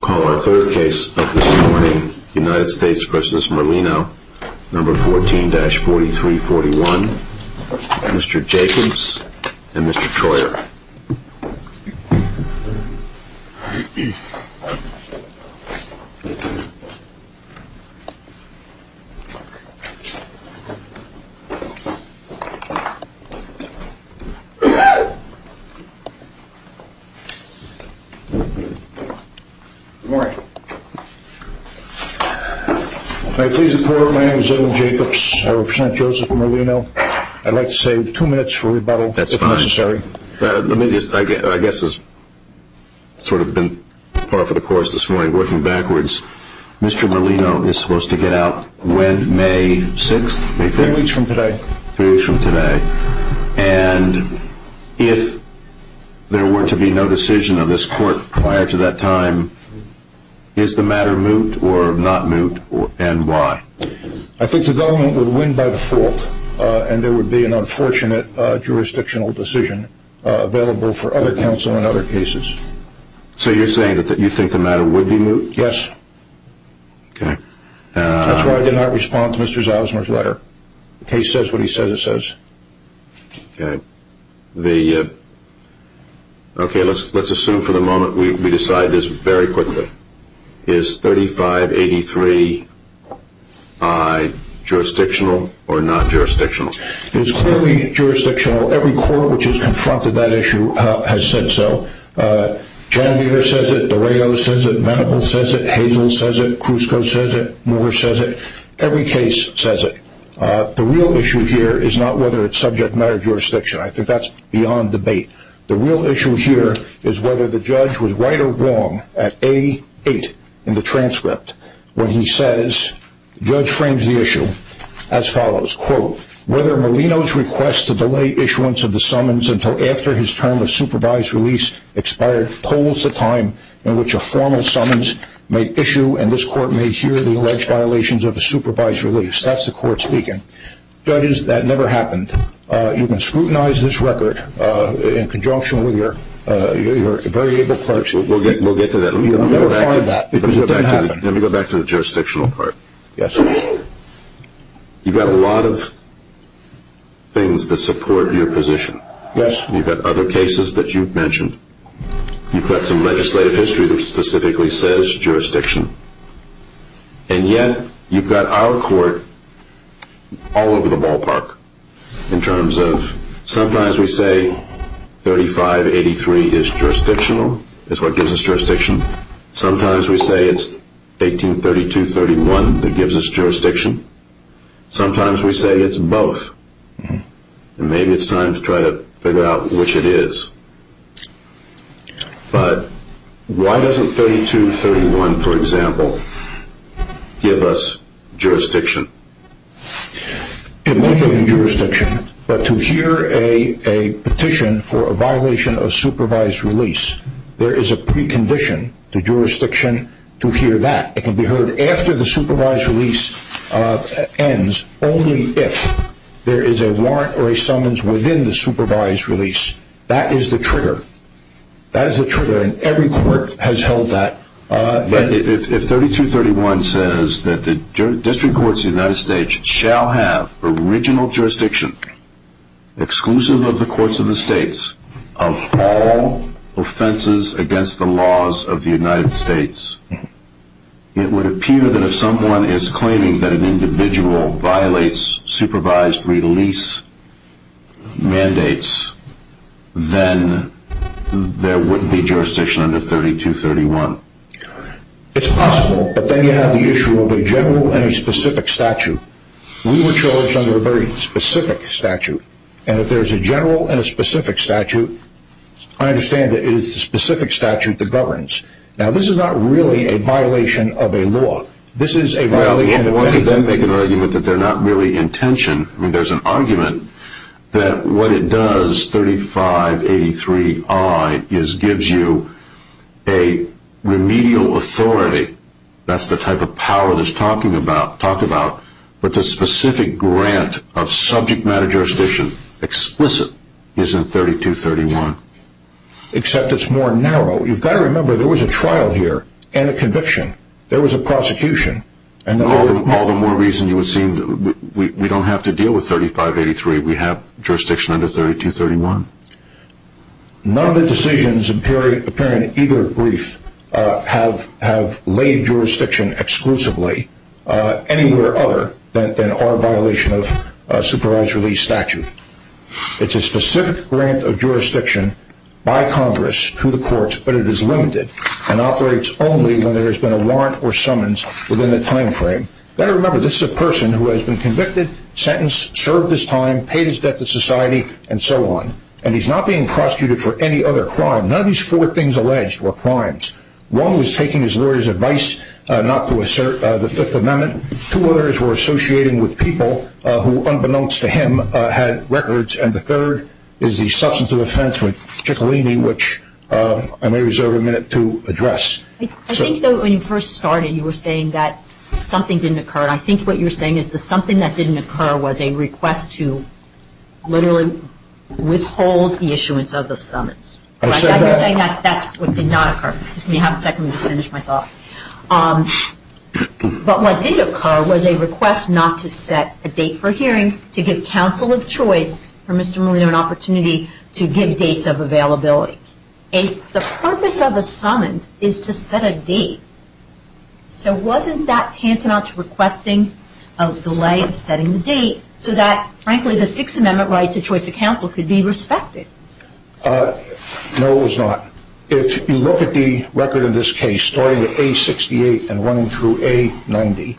Call our third case of this morning, United States v. Merlino, No. 14-4341, Mr. Jacobs and Mr. Troyer. Good morning. May I please report, my name is Edwin Jacobs. I represent Joseph Merlino. I'd like to save two minutes for rebuttal, if necessary. That's fine. Let me just, I guess this has sort of been par for the course this morning, working backwards. Mr. Merlino is supposed to get out when, May 6th? Three weeks from today. Three weeks from today. And if there were to be no decision of this court prior to that time, is the matter moot or not moot, and why? I think the government would win by default, and there would be an unfortunate jurisdictional decision available for other counsel in other cases. So you're saying that you think the matter would be moot? Yes. That's why I did not respond to Mr. Zalesner's letter. The case says what he says it says. Okay. Let's assume for the moment we decide this very quickly. Is 3583I jurisdictional or not jurisdictional? It is clearly jurisdictional. Every court which has confronted that issue has said so. Chandigarh says it, Dureo says it, Venable says it, Hazel says it, Krusko says it, Moore says it. Every case says it. The real issue here is not whether it's subject matter jurisdiction. I think that's beyond debate. The real issue here is whether the judge was right or wrong at A8 in the transcript when he says, the judge frames the issue as follows, quote, whether Molino's request to delay issuance of the summons until after his term of supervised release expired tolls the time in which a formal summons may issue and this court may hear the alleged violations of a supervised release. That's the court speaking. Judges, that never happened. You can scrutinize this record in conjunction with your very able clerks. We'll get to that. Let me go back to the jurisdictional part. You've got a lot of things that support your position. Yes. You've got other cases that you've mentioned. You've got some legislative history that specifically says jurisdiction. And yet, you've got our court all over the ballpark in terms of, sometimes we say 3583 is jurisdictional, is what gives us jurisdiction. Sometimes we say it's 1832-31 that gives us jurisdiction. Sometimes we say it's both. And maybe it's time to try to figure out which it is. But why doesn't 32-31, for example, give us jurisdiction? It may give you jurisdiction. But to hear a petition for a violation of supervised release, there is a precondition to jurisdiction to hear that. It can be heard after the supervised release ends only if there is a warrant or a summons within the supervised release. That is the trigger. That is the trigger and every court has held that. If 32-31 says that the District Courts of the United States shall have original jurisdiction, exclusive of the courts of the states, of all offenses against the laws of the United States, it would appear that if someone is claiming that an individual violates supervised release mandates, then there wouldn't be jurisdiction under 32-31. It's possible, but then you have the issue of a general and a specific statute. We were charged under a very specific statute. And if there is a general and a specific statute, I understand that it is the specific statute that governs. Now, this is not really a violation of a law. This is a violation of anything. Well, why do they make an argument that they're not really in tension? I mean, there's an argument that what it does, 3583I, is gives you a remedial authority. That's the type of power that's talked about. But the specific grant of subject matter jurisdiction, explicit, is in 32-31. Except it's more narrow. You've got to remember, there was a trial here and a conviction. There was a prosecution. All the more reason you would seem that we don't have to deal with 3583. We have jurisdiction under 32-31. None of the decisions appearing in either brief have laid jurisdiction exclusively, anywhere other than our violation of a supervised release statute. It's a specific grant of jurisdiction by Congress to the courts, but it is limited and operates only when there has been a warrant or summons within the time frame. Better remember, this is a person who has been convicted, sentenced, served his time, paid his debt to society, and so on. And he's not being prosecuted for any other crime. None of these four things alleged were crimes. One was taking his lawyer's advice not to assert the Fifth Amendment. Two others were associating with people who, unbeknownst to him, had records. And the third is the substance of offense with Ciccolini, which I may reserve a minute to address. I think, though, when you first started, you were saying that something didn't occur. And I think what you're saying is the something that didn't occur was a request to literally withhold the issuance of the summons. I said that. You're saying that's what did not occur. Just give me half a second. Let me just finish my thought. But what did occur was a request not to set a date for hearing, to give counsel of choice for Mr. Molino an opportunity to give dates of availability. The purpose of a summons is to set a date. So wasn't that tantamount to requesting a delay of setting the date so that, frankly, the Sixth Amendment right to choice of counsel could be respected? No, it was not. If you look at the record of this case, starting at A68 and running through A90,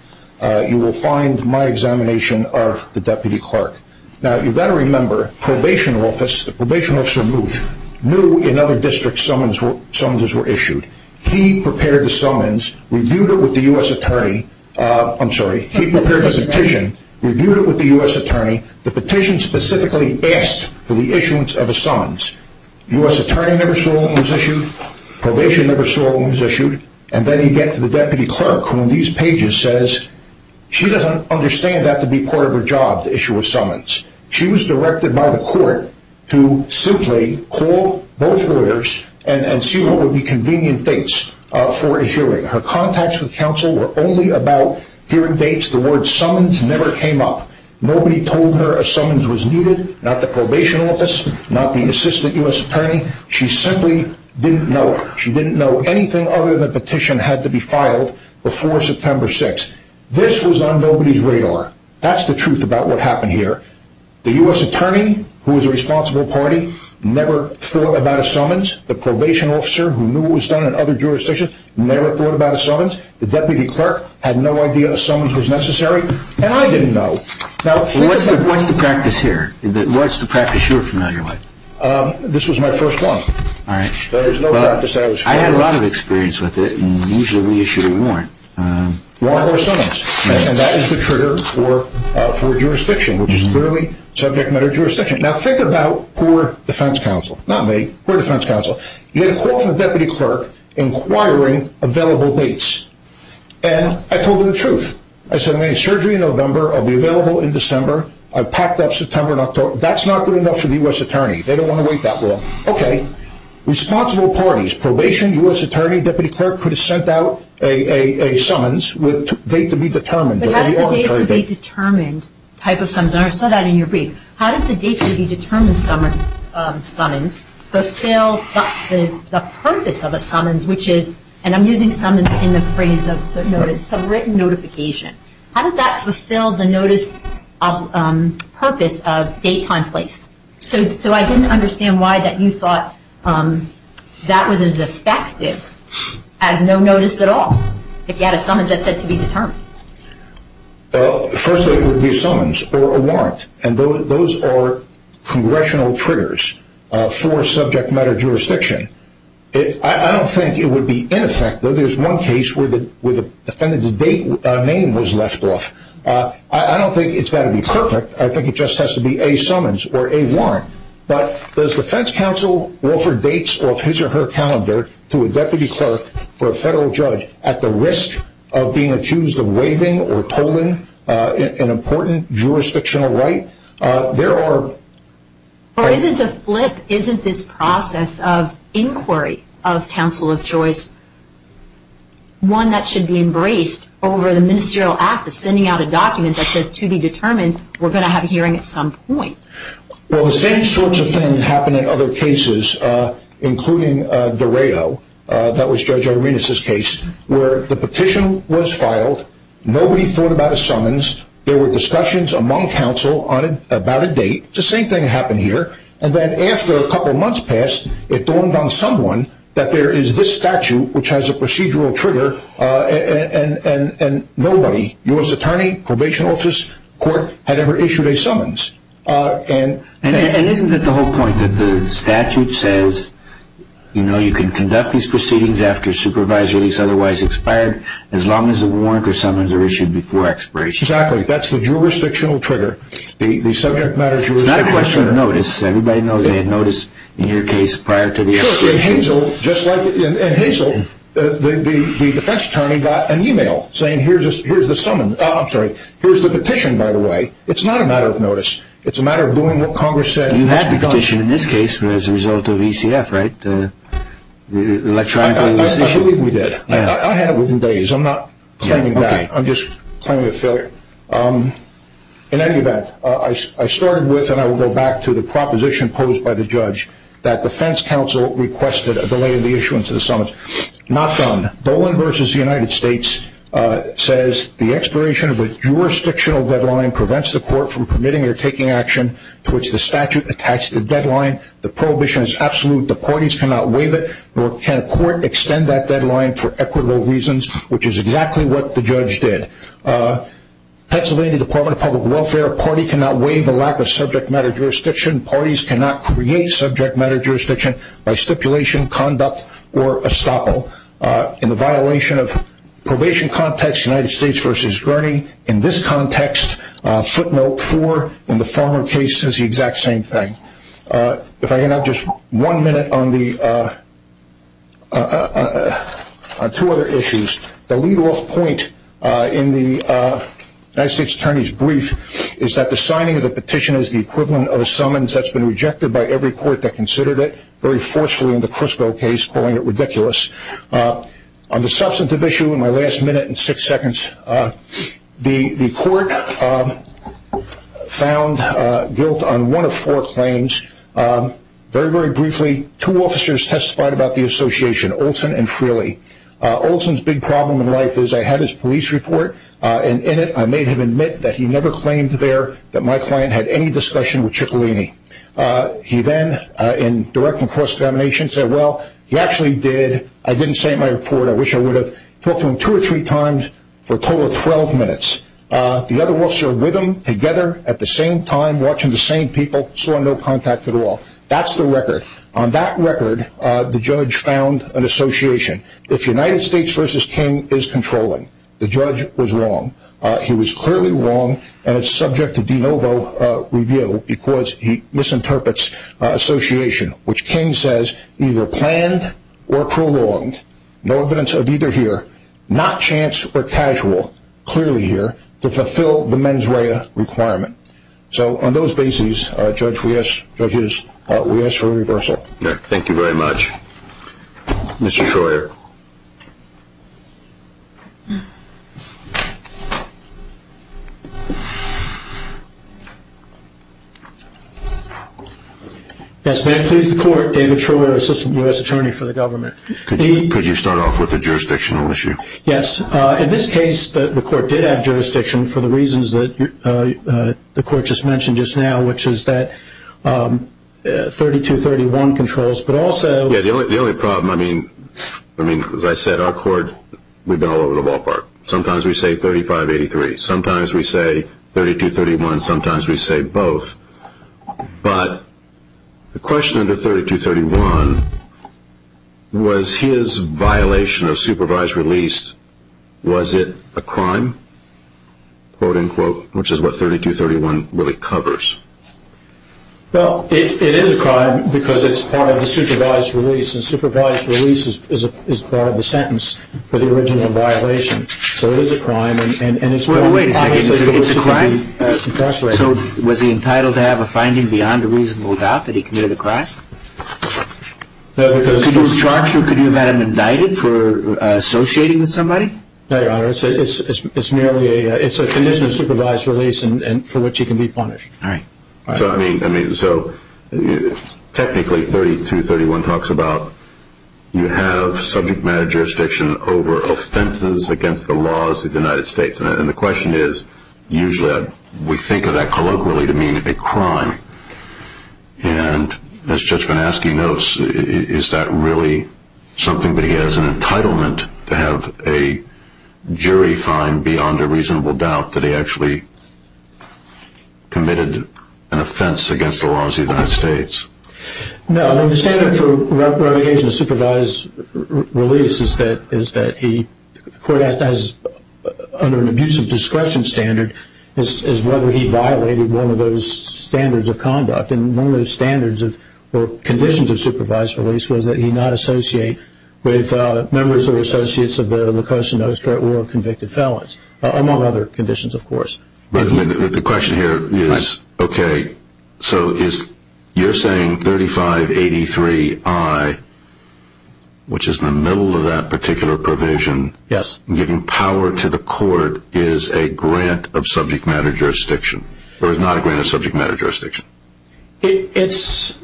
you will find my examination of the deputy clerk. Now, you've got to remember, the probation officer knew in other districts summonses were issued. He prepared the summons, reviewed it with the U.S. attorney. I'm sorry. He prepared the petition, reviewed it with the U.S. attorney. The petition specifically asked for the issuance of a summons. U.S. attorney never saw one was issued. Probation never saw one was issued. And then you get to the deputy clerk who, in these pages, says she doesn't understand that to be part of her job to issue a summons. She was directed by the court to simply call both lawyers and see what would be convenient dates for a hearing. Her contacts with counsel were only about hearing dates. The word summons never came up. Nobody told her a summons was needed. Not the probation office, not the assistant U.S. attorney. She simply didn't know it. She didn't know anything other than the petition had to be filed before September 6th. This was on nobody's radar. That's the truth about what happened here. The U.S. attorney, who was a responsible party, never thought about a summons. The probation officer, who knew what was done in other jurisdictions, never thought about a summons. The deputy clerk had no idea a summons was necessary. And I didn't know. What's the practice here? What's the practice you're familiar with? This was my first one. There's no practice I was familiar with. I had a lot of experience with it, and usually we issued a warrant. Warrant for a summons. And that is the trigger for a jurisdiction, which is clearly subject matter jurisdiction. Now think about poor defense counsel. Not me, poor defense counsel. You get a call from the deputy clerk inquiring available dates. And I told her the truth. I said, I'm going to have surgery in November. I'll be available in December. I've packed up September and October. That's not good enough for the U.S. attorney. They don't want to wait that long. Okay. Responsible parties, probation, U.S. attorney, deputy clerk could have sent out a summons with a date to be determined. But how does the date to be determined type of summons? And I saw that in your brief. How does the date to be determined summons fulfill the purpose of a summons, which is, and I'm using summons in the phrase of notice, a written notification. How does that fulfill the notice of purpose of date, time, place? So I didn't understand why that you thought that was as effective as no notice at all. If you had a summons that said to be determined. First, it would be a summons or a warrant. And those are congressional triggers for subject matter jurisdiction. I don't think it would be ineffective. There's one case where the defendant's name was left off. I don't think it's got to be perfect. I think it just has to be a summons or a warrant. But does defense counsel offer dates of his or her calendar to a deputy clerk for a federal judge at the risk of being accused of waiving or tolling an important jurisdictional right? Or is it the flip? Isn't this process of inquiry of counsel of choice one that should be embraced over the ministerial act of sending out a document that says, to be determined, we're going to have a hearing at some point? Well, the same sorts of things happen in other cases, including DeRayo. That was Judge Arenas' case where the petition was filed. Nobody thought about a summons. There were discussions among counsel about a date. The same thing happened here. And then after a couple months passed, it dawned on someone that there is this statute which has a procedural trigger, and nobody, U.S. Attorney, probation office, court, had ever issued a summons. And isn't it the whole point that the statute says, you know, you can conduct these proceedings after supervisory is otherwise expired as long as a warrant or summons are issued before expiration? Exactly. That's the jurisdictional trigger. It's not a question of notice. Everybody knows they had notice in your case prior to the expiration. And Hazel, the defense attorney, got an e-mail saying, here's the petition, by the way. It's not a matter of notice. It's a matter of doing what Congress said. You had the petition in this case as a result of ECF, right? I believe we did. I had it within days. I'm not claiming that. I'm just claiming a failure. In any event, I started with, and I will go back to the proposition posed by the judge, that defense counsel requested a delay in the issuance of the summons. Not done. Bowen v. United States says the expiration of a jurisdictional deadline prevents the court from permitting or taking action to which the statute attached the deadline. The prohibition is absolute. The parties cannot waive it, nor can a court extend that deadline for equitable reasons, which is exactly what the judge did. Pennsylvania Department of Public Welfare, a party cannot waive the lack of subject matter jurisdiction. Parties cannot create subject matter jurisdiction by stipulation, conduct, or estoppel. In the violation of probation context, United States v. Gurney, in this context, footnote four, in the former case, says the exact same thing. If I can have just one minute on two other issues. The lead-off point in the United States Attorney's brief is that the signing of the petition is the equivalent of a summons that's been rejected by every court that considered it, very forcefully in the Crisco case, calling it ridiculous. On the substantive issue in my last minute and six seconds, the court found guilt on one of four claims. Very, very briefly, two officers testified about the association, Olson and Frehley. Olson's big problem in life is I had his police report, and in it I made him admit that he never claimed there that my client had any discussion with Ciccolini. He then, in directing cross-examination, said, well, he actually did. I didn't say in my report. I wish I would have talked to him two or three times for a total of 12 minutes. The other officer with him, together, at the same time, watching the same people, saw no contact at all. That's the record. On that record, the judge found an association. If United States v. King is controlling, the judge was wrong. He was clearly wrong, and it's subject to de novo review because he misinterprets association, which King says either planned or prolonged, no evidence of either here, not chance or casual, clearly here, to fulfill the mens rea requirement. So on those bases, judges, we ask for a reversal. Thank you very much. Mr. Troyer. Yes, ma'am, please. The court, David Troyer, assistant U.S. attorney for the government. Could you start off with the jurisdictional issue? Yes. In this case, the court did have jurisdiction for the reasons that the court just mentioned just now, which is that 3231 controls, but also- Yeah, the only problem, I mean, as I said, our court, we've been all over the ballpark. Sometimes we say 3583. Sometimes we say 3231. Sometimes we say both. But the question under 3231, was his violation of supervised release, was it a crime, quote-unquote, which is what 3231 really covers? Well, it is a crime because it's part of the supervised release, and supervised release is part of the sentence for the original violation. So it is a crime, and it's probably- Wait a second. It's a crime? It's incarcerated. So was he entitled to have a finding beyond a reasonable doubt that he committed a crime? No, because- Could you charge him? Could you have had him indicted for associating with somebody? No, Your Honor. It's merely a condition of supervised release for which he can be punished. All right. I mean, so technically 3231 talks about you have subject matter jurisdiction over offenses against the laws of the United States, and the question is usually we think of that colloquially to mean a crime. And as Judge VanAskey notes, is that really something that he has an entitlement to have a jury find beyond a reasonable doubt that he actually committed an offense against the laws of the United States? No. The standard for revocation of supervised release is that he- the court has, under an abusive discretion standard, is whether he violated one of those standards of conduct. And one of those standards or conditions of supervised release was that he not associate with members or associates of the LaCosta-Nostra or convicted felons, among other conditions, of course. But the question here is, okay, so you're saying 3583I, which is in the middle of that particular provision, giving power to the court is a grant of subject matter jurisdiction or is not a grant of subject matter jurisdiction? It's-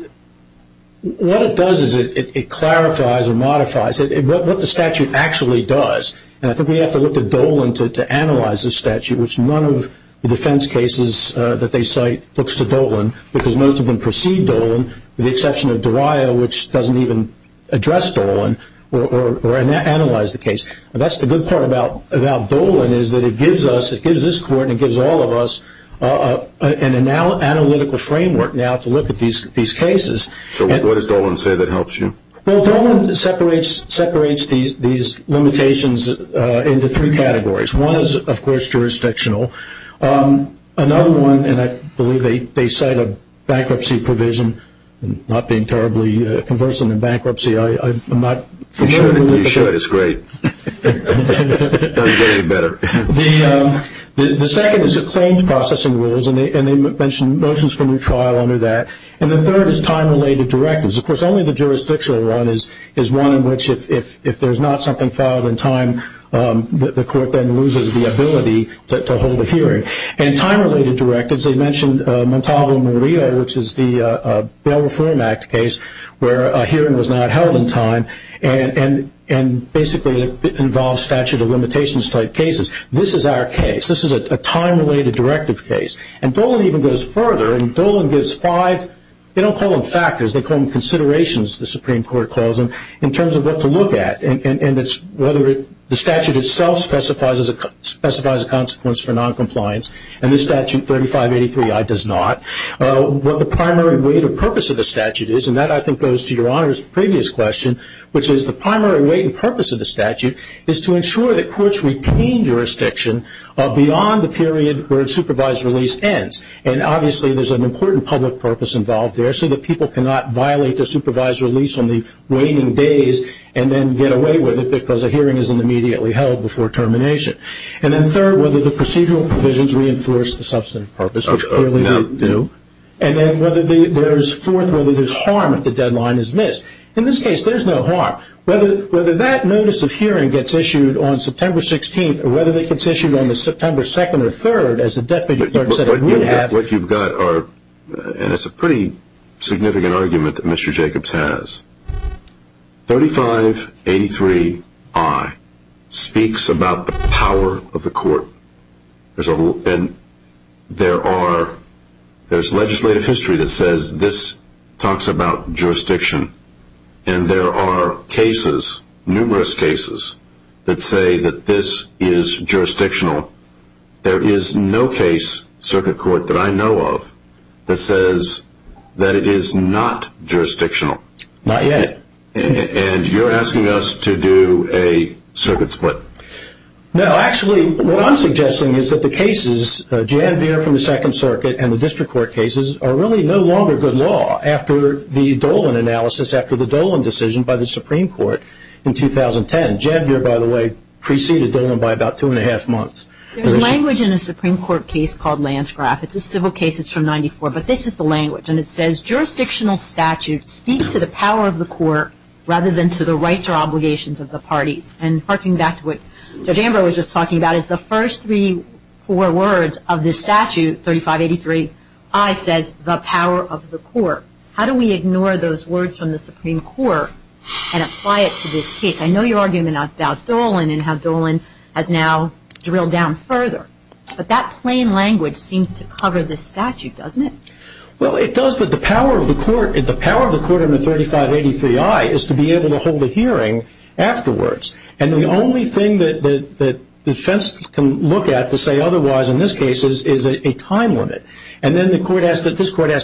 what it does is it clarifies or modifies what the statute actually does. And I think we have to look at Dolan to analyze the statute, which none of the defense cases that they cite looks to Dolan, because most of them precede Dolan with the exception of Dariah, which doesn't even address Dolan or analyze the case. That's the good part about Dolan is that it gives us- it gives this court and it gives all of us an analytical framework now to look at these cases. So what does Dolan say that helps you? Well, Dolan separates these limitations into three categories. One is, of course, jurisdictional. Another one, and I believe they cite a bankruptcy provision, not being terribly conversant in bankruptcy, I'm not familiar with it. You should. It's great. It doesn't get any better. The second is the claims processing rules, and they mention motions for new trial under that. And the third is time-related directives. Of course, only the jurisdictional one is one in which if there's not something filed in time, the court then loses the ability to hold a hearing. And time-related directives, they mentioned Montalvo-Murillo, which is the Bail Reform Act case where a hearing was not held in time and basically involves statute of limitations-type cases. This is our case. This is a time-related directive case. And Dolan even goes further, and Dolan gives five- they don't call them factors, they call them considerations, the Supreme Court calls them, in terms of what to look at, and it's whether the statute itself specifies a consequence for noncompliance. And this statute, 3583I, does not. What the primary weight or purpose of the statute is, and that I think goes to Your Honor's previous question, which is the primary weight and purpose of the statute is to ensure that courts retain jurisdiction beyond the period where a supervised release ends. And obviously there's an important public purpose involved there so that people cannot violate the supervised release on the waning days and then get away with it because a hearing isn't immediately held before termination. And then third, whether the procedural provisions reinforce the substantive purpose, which clearly they do. And then whether there's fourth, whether there's harm if the deadline is missed. In this case, there's no harm. Whether that notice of hearing gets issued on September 16th or whether it gets issued on the September 2nd or 3rd, as the deputy clerk said, it would have. What you've got are, and it's a pretty significant argument that Mr. Jacobs has, 3583I speaks about the power of the court. And there's legislative history that says this talks about jurisdiction. And there are cases, numerous cases, that say that this is jurisdictional. There is no case, Circuit Court, that I know of that says that it is not jurisdictional. Not yet. And you're asking us to do a circuit split. No. Actually, what I'm suggesting is that the cases, Jan Veer from the Second Circuit and the district court cases, are really no longer good law after the Dolan analysis, after the Dolan decision by the Supreme Court in 2010. Jan Veer, by the way, preceded Dolan by about two and a half months. There's language in a Supreme Court case called Landscraft. It's a civil case. It's from 94. But this is the language. And it says jurisdictional statutes speak to the power of the court rather than to the rights or obligations of the parties. And harking back to what Judge Amber was just talking about, is the first three or four words of this statute, 3583I, says the power of the court. How do we ignore those words from the Supreme Court and apply it to this case? I know your argument about Dolan and how Dolan has now drilled down further. But that plain language seems to cover this statute, doesn't it? Well, it does. But the power of the court in the 3583I is to be able to hold a hearing afterwards. And the only thing that defense can look at to say otherwise in this case is a time limit. And then this court has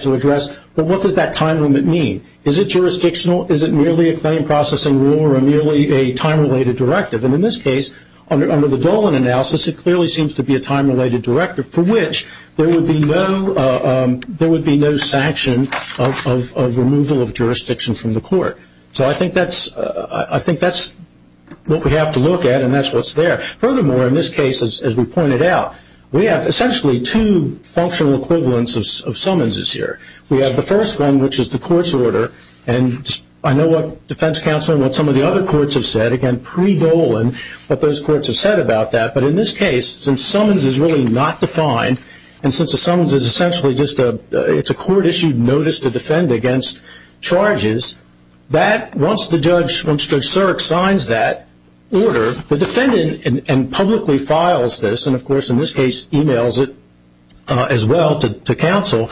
to address, well, what does that time limit mean? Is it jurisdictional? Is it merely a claim processing rule or merely a time-related directive? And in this case, under the Dolan analysis, it clearly seems to be a time-related directive, for which there would be no sanction of removal of jurisdiction from the court. So I think that's what we have to look at, and that's what's there. Furthermore, in this case, as we pointed out, we have essentially two functional equivalents of summonses here. We have the first one, which is the court's order. And I know what defense counsel and what some of the other courts have said, again, pre-Dolan, what those courts have said about that. But in this case, since summons is really not defined, and since a summons is essentially just a court-issued notice to defend against charges, that once the judge, Judge Surik, signs that order, the defendant publicly files this, and of course in this case emails it as well to counsel,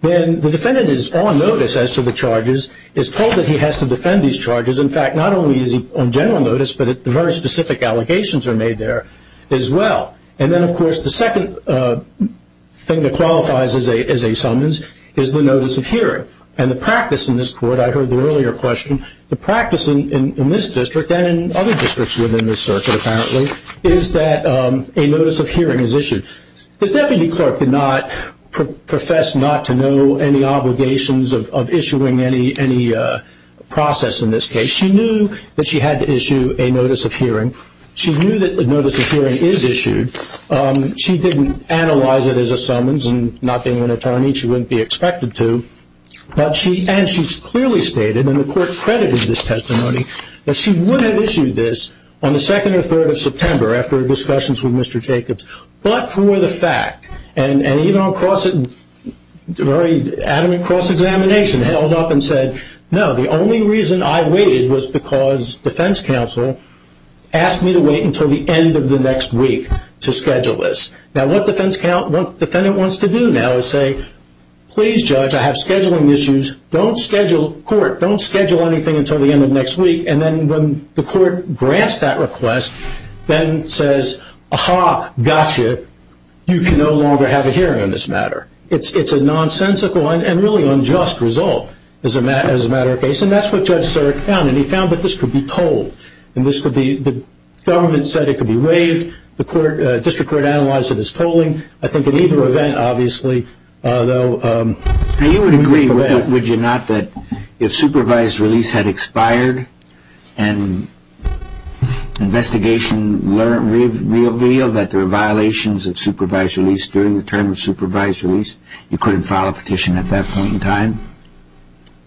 then the defendant is on notice as to the charges, is told that he has to defend these charges. In fact, not only is he on general notice, but the very specific allegations are made there as well. And then, of course, the second thing that qualifies as a summons is the notice of hearing. And the practice in this court, I heard the earlier question, the practice in this district and in other districts within this circuit, apparently, is that a notice of hearing is issued. The deputy clerk did not profess not to know any obligations of issuing any process in this case. She knew that she had to issue a notice of hearing. She knew that the notice of hearing is issued. She didn't analyze it as a summons and not being an attorney, she wouldn't be expected to. And she clearly stated, and the court credited this testimony, that she would have issued this on the 2nd or 3rd of September after discussions with Mr. Jacobs. But for the fact, and even on cross-examination, held up and said, no, the only reason I waited was because defense counsel asked me to wait until the end of the next week to schedule this. Now, what the defendant wants to do now is say, please judge, I have scheduling issues, don't schedule anything until the end of next week. And then when the court grants that request, then says, aha, gotcha, you can no longer have a hearing on this matter. It's a nonsensical and really unjust result as a matter of case. And that's what Judge Surik found. And he found that this could be tolled. The government said it could be waived. The district court analyzed it as tolling. I think in either event, obviously, though. Now, you would agree, would you not, that if supervised release had expired and investigation revealed that there were violations of supervised release during the term of supervised release, you couldn't file a petition at that point in time?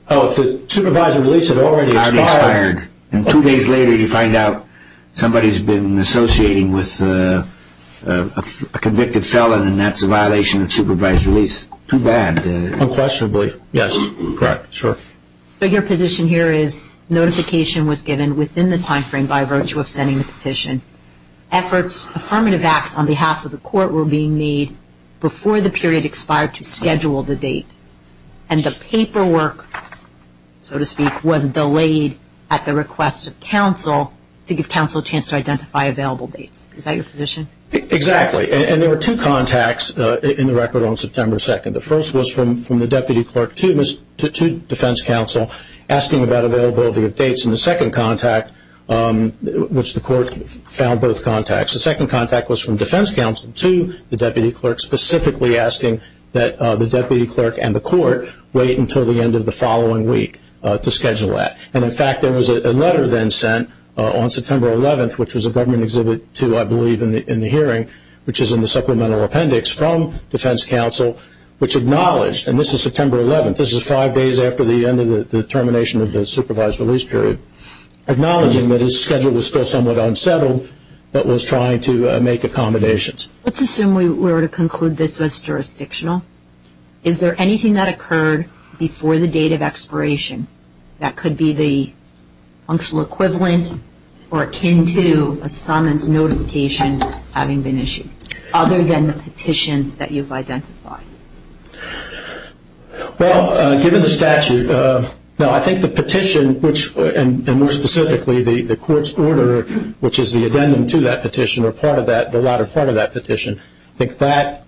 Oh, if the supervised release had already expired? Already expired. And two days later, you find out somebody's been associating with a convicted felon, and that's a violation of supervised release. Too bad. Unquestionably. Yes. Correct. Sure. So your position here is notification was given within the time frame by virtue of sending the petition. Efforts, affirmative acts on behalf of the court were being made before the period expired to schedule the date. And the paperwork, so to speak, was delayed at the request of counsel to give counsel a chance to identify available dates. Is that your position? Exactly. And there were two contacts in the record on September 2nd. The first was from the deputy clerk to defense counsel asking about availability of dates. And the second contact, which the court found both contacts, the second contact was from defense counsel to the deputy clerk specifically asking that the deputy clerk and the court wait until the end of the following week to schedule that. And, in fact, there was a letter then sent on September 11th, which was a government exhibit too, I believe, in the hearing, which is in the supplemental appendix from defense counsel, which acknowledged, and this is September 11th, this is five days after the end of the termination of the supervised release period, acknowledging that his schedule was still somewhat unsettled but was trying to make accommodations. Let's assume we were to conclude this was jurisdictional. Is there anything that occurred before the date of expiration that could be the functional equivalent or akin to a summons notification having been issued, other than the petition that you've identified? Well, given the statute, no, I think the petition, and more specifically the court's order, which is the addendum to that petition or the latter part of that petition, I think that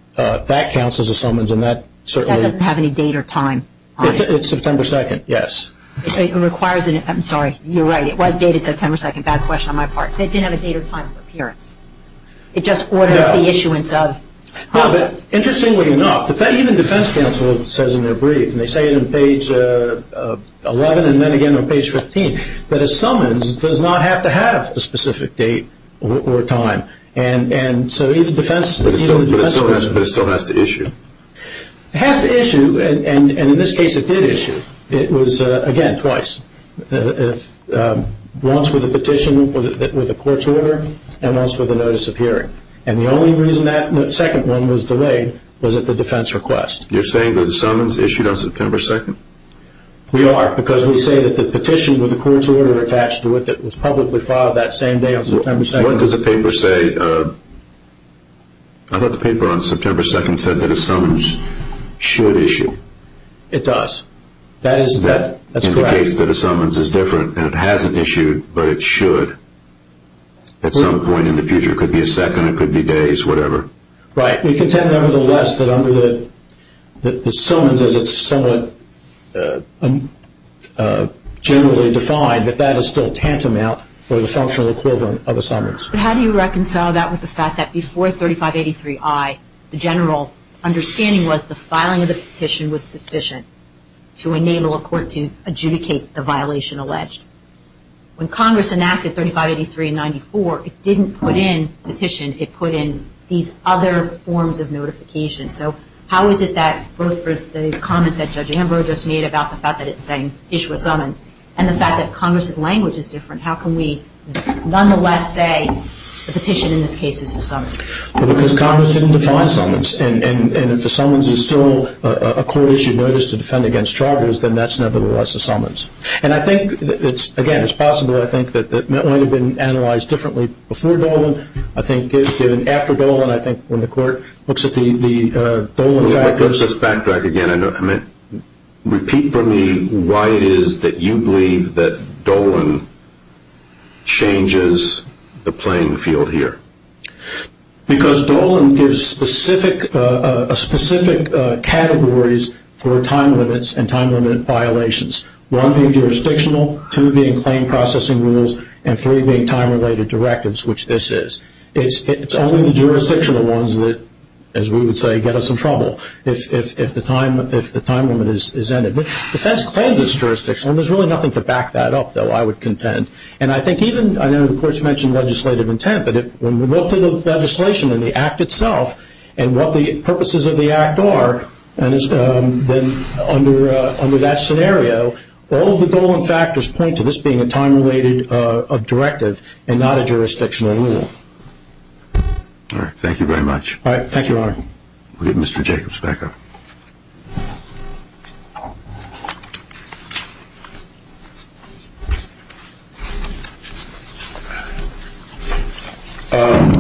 counts as a summons. That doesn't have any date or time on it. It's September 2nd, yes. I'm sorry. You're right. It was dated September 2nd. Bad question on my part. It didn't have a date or time for appearance. It just ordered the issuance of process. Interestingly enough, even defense counsel says in their brief, and they say it on page 11 and then again on page 15, that a summons does not have to have a specific date or time. And so even defense counsel… But it still has to issue. It has to issue, and in this case it did issue. It was, again, twice. Once with a petition, with a court's order, and once with a notice of hearing. And the only reason that second one was delayed was at the defense request. You're saying that a summons issued on September 2nd? We are, because we say that the petition with the court's order attached to it that was publicly filed that same day on September 2nd… What does the paper say? I thought the paper on September 2nd said that a summons should issue. It does. That's correct. That indicates that a summons is different, and it hasn't issued, but it should. At some point in the future, it could be a second, it could be days, whatever. Right. We contend, nevertheless, that under the summons, as it's somewhat generally defined, that that is still tantamount or the functional equivalent of a summons. But how do you reconcile that with the fact that before 3583I, the general understanding was the filing of the petition was sufficient to enable a court to adjudicate the violation alleged? When Congress enacted 3583 and 94, it didn't put in petition. It put in these other forms of notification. So how is it that both the comment that Judge Ambrose just made about the fact that it's saying issue a summons and the fact that Congress's language is different, how can we nonetheless say the petition in this case is a summons? Well, because Congress didn't define summons, and if a summons is still a court-issued notice to defend against charges, then that's nevertheless a summons. And I think, again, it's possible, I think, that it might have been analyzed differently before Dolan. I think after Dolan, I think when the court looks at the Dolan factors. Let's backtrack again. Repeat for me why it is that you believe that Dolan changes the playing field here. Because Dolan gives specific categories for time limits and time-limited violations, one being jurisdictional, two being claim processing rules, and three being time-related directives, which this is. It's only the jurisdictional ones that, as we would say, get us in trouble if the time limit is ended. Defense claims it's jurisdictional, and there's really nothing to back that up, though, I would contend. And I think even, I know the courts mentioned legislative intent, but when we look to the legislation and the act itself and what the purposes of the act are under that scenario, all of the Dolan factors point to this being a time-related directive and not a jurisdictional rule. All right. Thank you very much. All right. Thank you, Your Honor. We'll get Mr. Jacobs back up.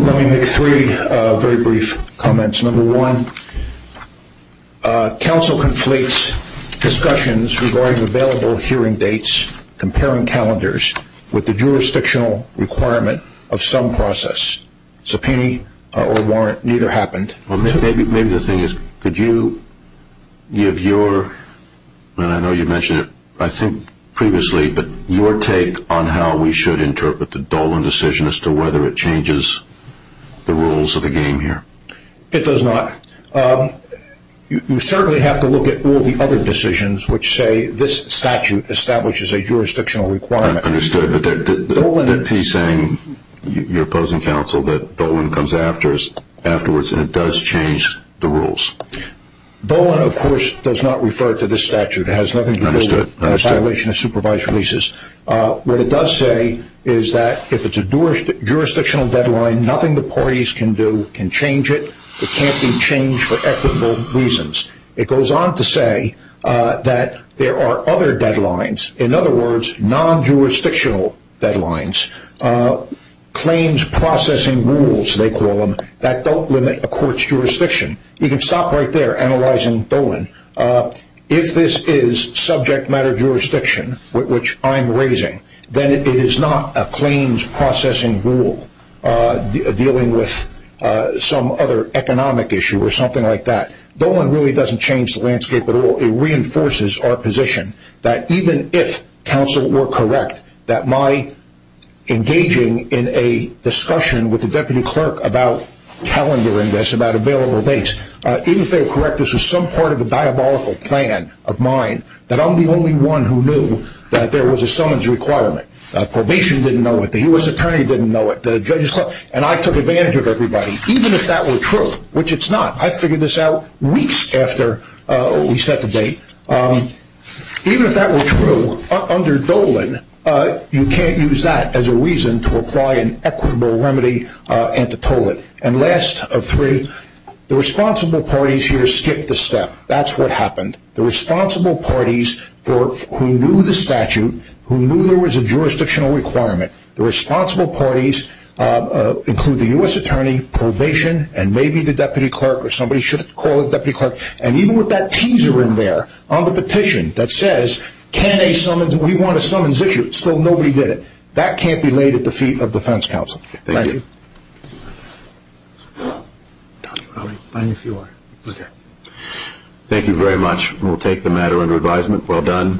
Let me make three very brief comments. Number one, counsel conflates discussions regarding available hearing dates, comparing calendars with the jurisdictional requirement of some process. Subpoena or warrant, neither happened. Maybe the thing is, could you give your, and I know you mentioned it, I think, previously, but your take on how we should interpret the Dolan decision as to whether it changes the rules of the game here. It does not. You certainly have to look at all the other decisions which say this statute establishes a jurisdictional requirement. Understood. But he's saying, your opposing counsel, that Dolan comes afterwards and it does change the rules. Dolan, of course, does not refer to this statute. It has nothing to do with violation of supervised releases. What it does say is that if it's a jurisdictional deadline, nothing the parties can do can change it. It can't be changed for equitable reasons. It goes on to say that there are other deadlines, in other words, non-jurisdictional deadlines, claims processing rules, they call them, that don't limit a court's jurisdiction. You can stop right there analyzing Dolan. If this is subject matter jurisdiction, which I'm raising, then it is not a claims processing rule dealing with some other economic issue or something like that. Dolan really doesn't change the landscape at all. It reinforces our position that even if counsel were correct, that my engaging in a discussion with the deputy clerk about calendaring this, about available dates, even if they were correct, that this was some part of a diabolical plan of mine, that I'm the only one who knew that there was a summons requirement. Probation didn't know it. The U.S. attorney didn't know it. And I took advantage of everybody, even if that were true, which it's not. I figured this out weeks after we set the date. Even if that were true, under Dolan, you can't use that as a reason to apply an equitable remedy antitolic. And last of three, the responsible parties here skipped a step. That's what happened. The responsible parties who knew the statute, who knew there was a jurisdictional requirement, the responsible parties include the U.S. attorney, probation, and maybe the deputy clerk, or somebody should call the deputy clerk. And even with that teaser in there on the petition that says, we want a summons issue, still nobody did it. That can't be laid at the feet of defense counsel. Thank you. Thank you very much. We'll take the matter under advisement. Well done.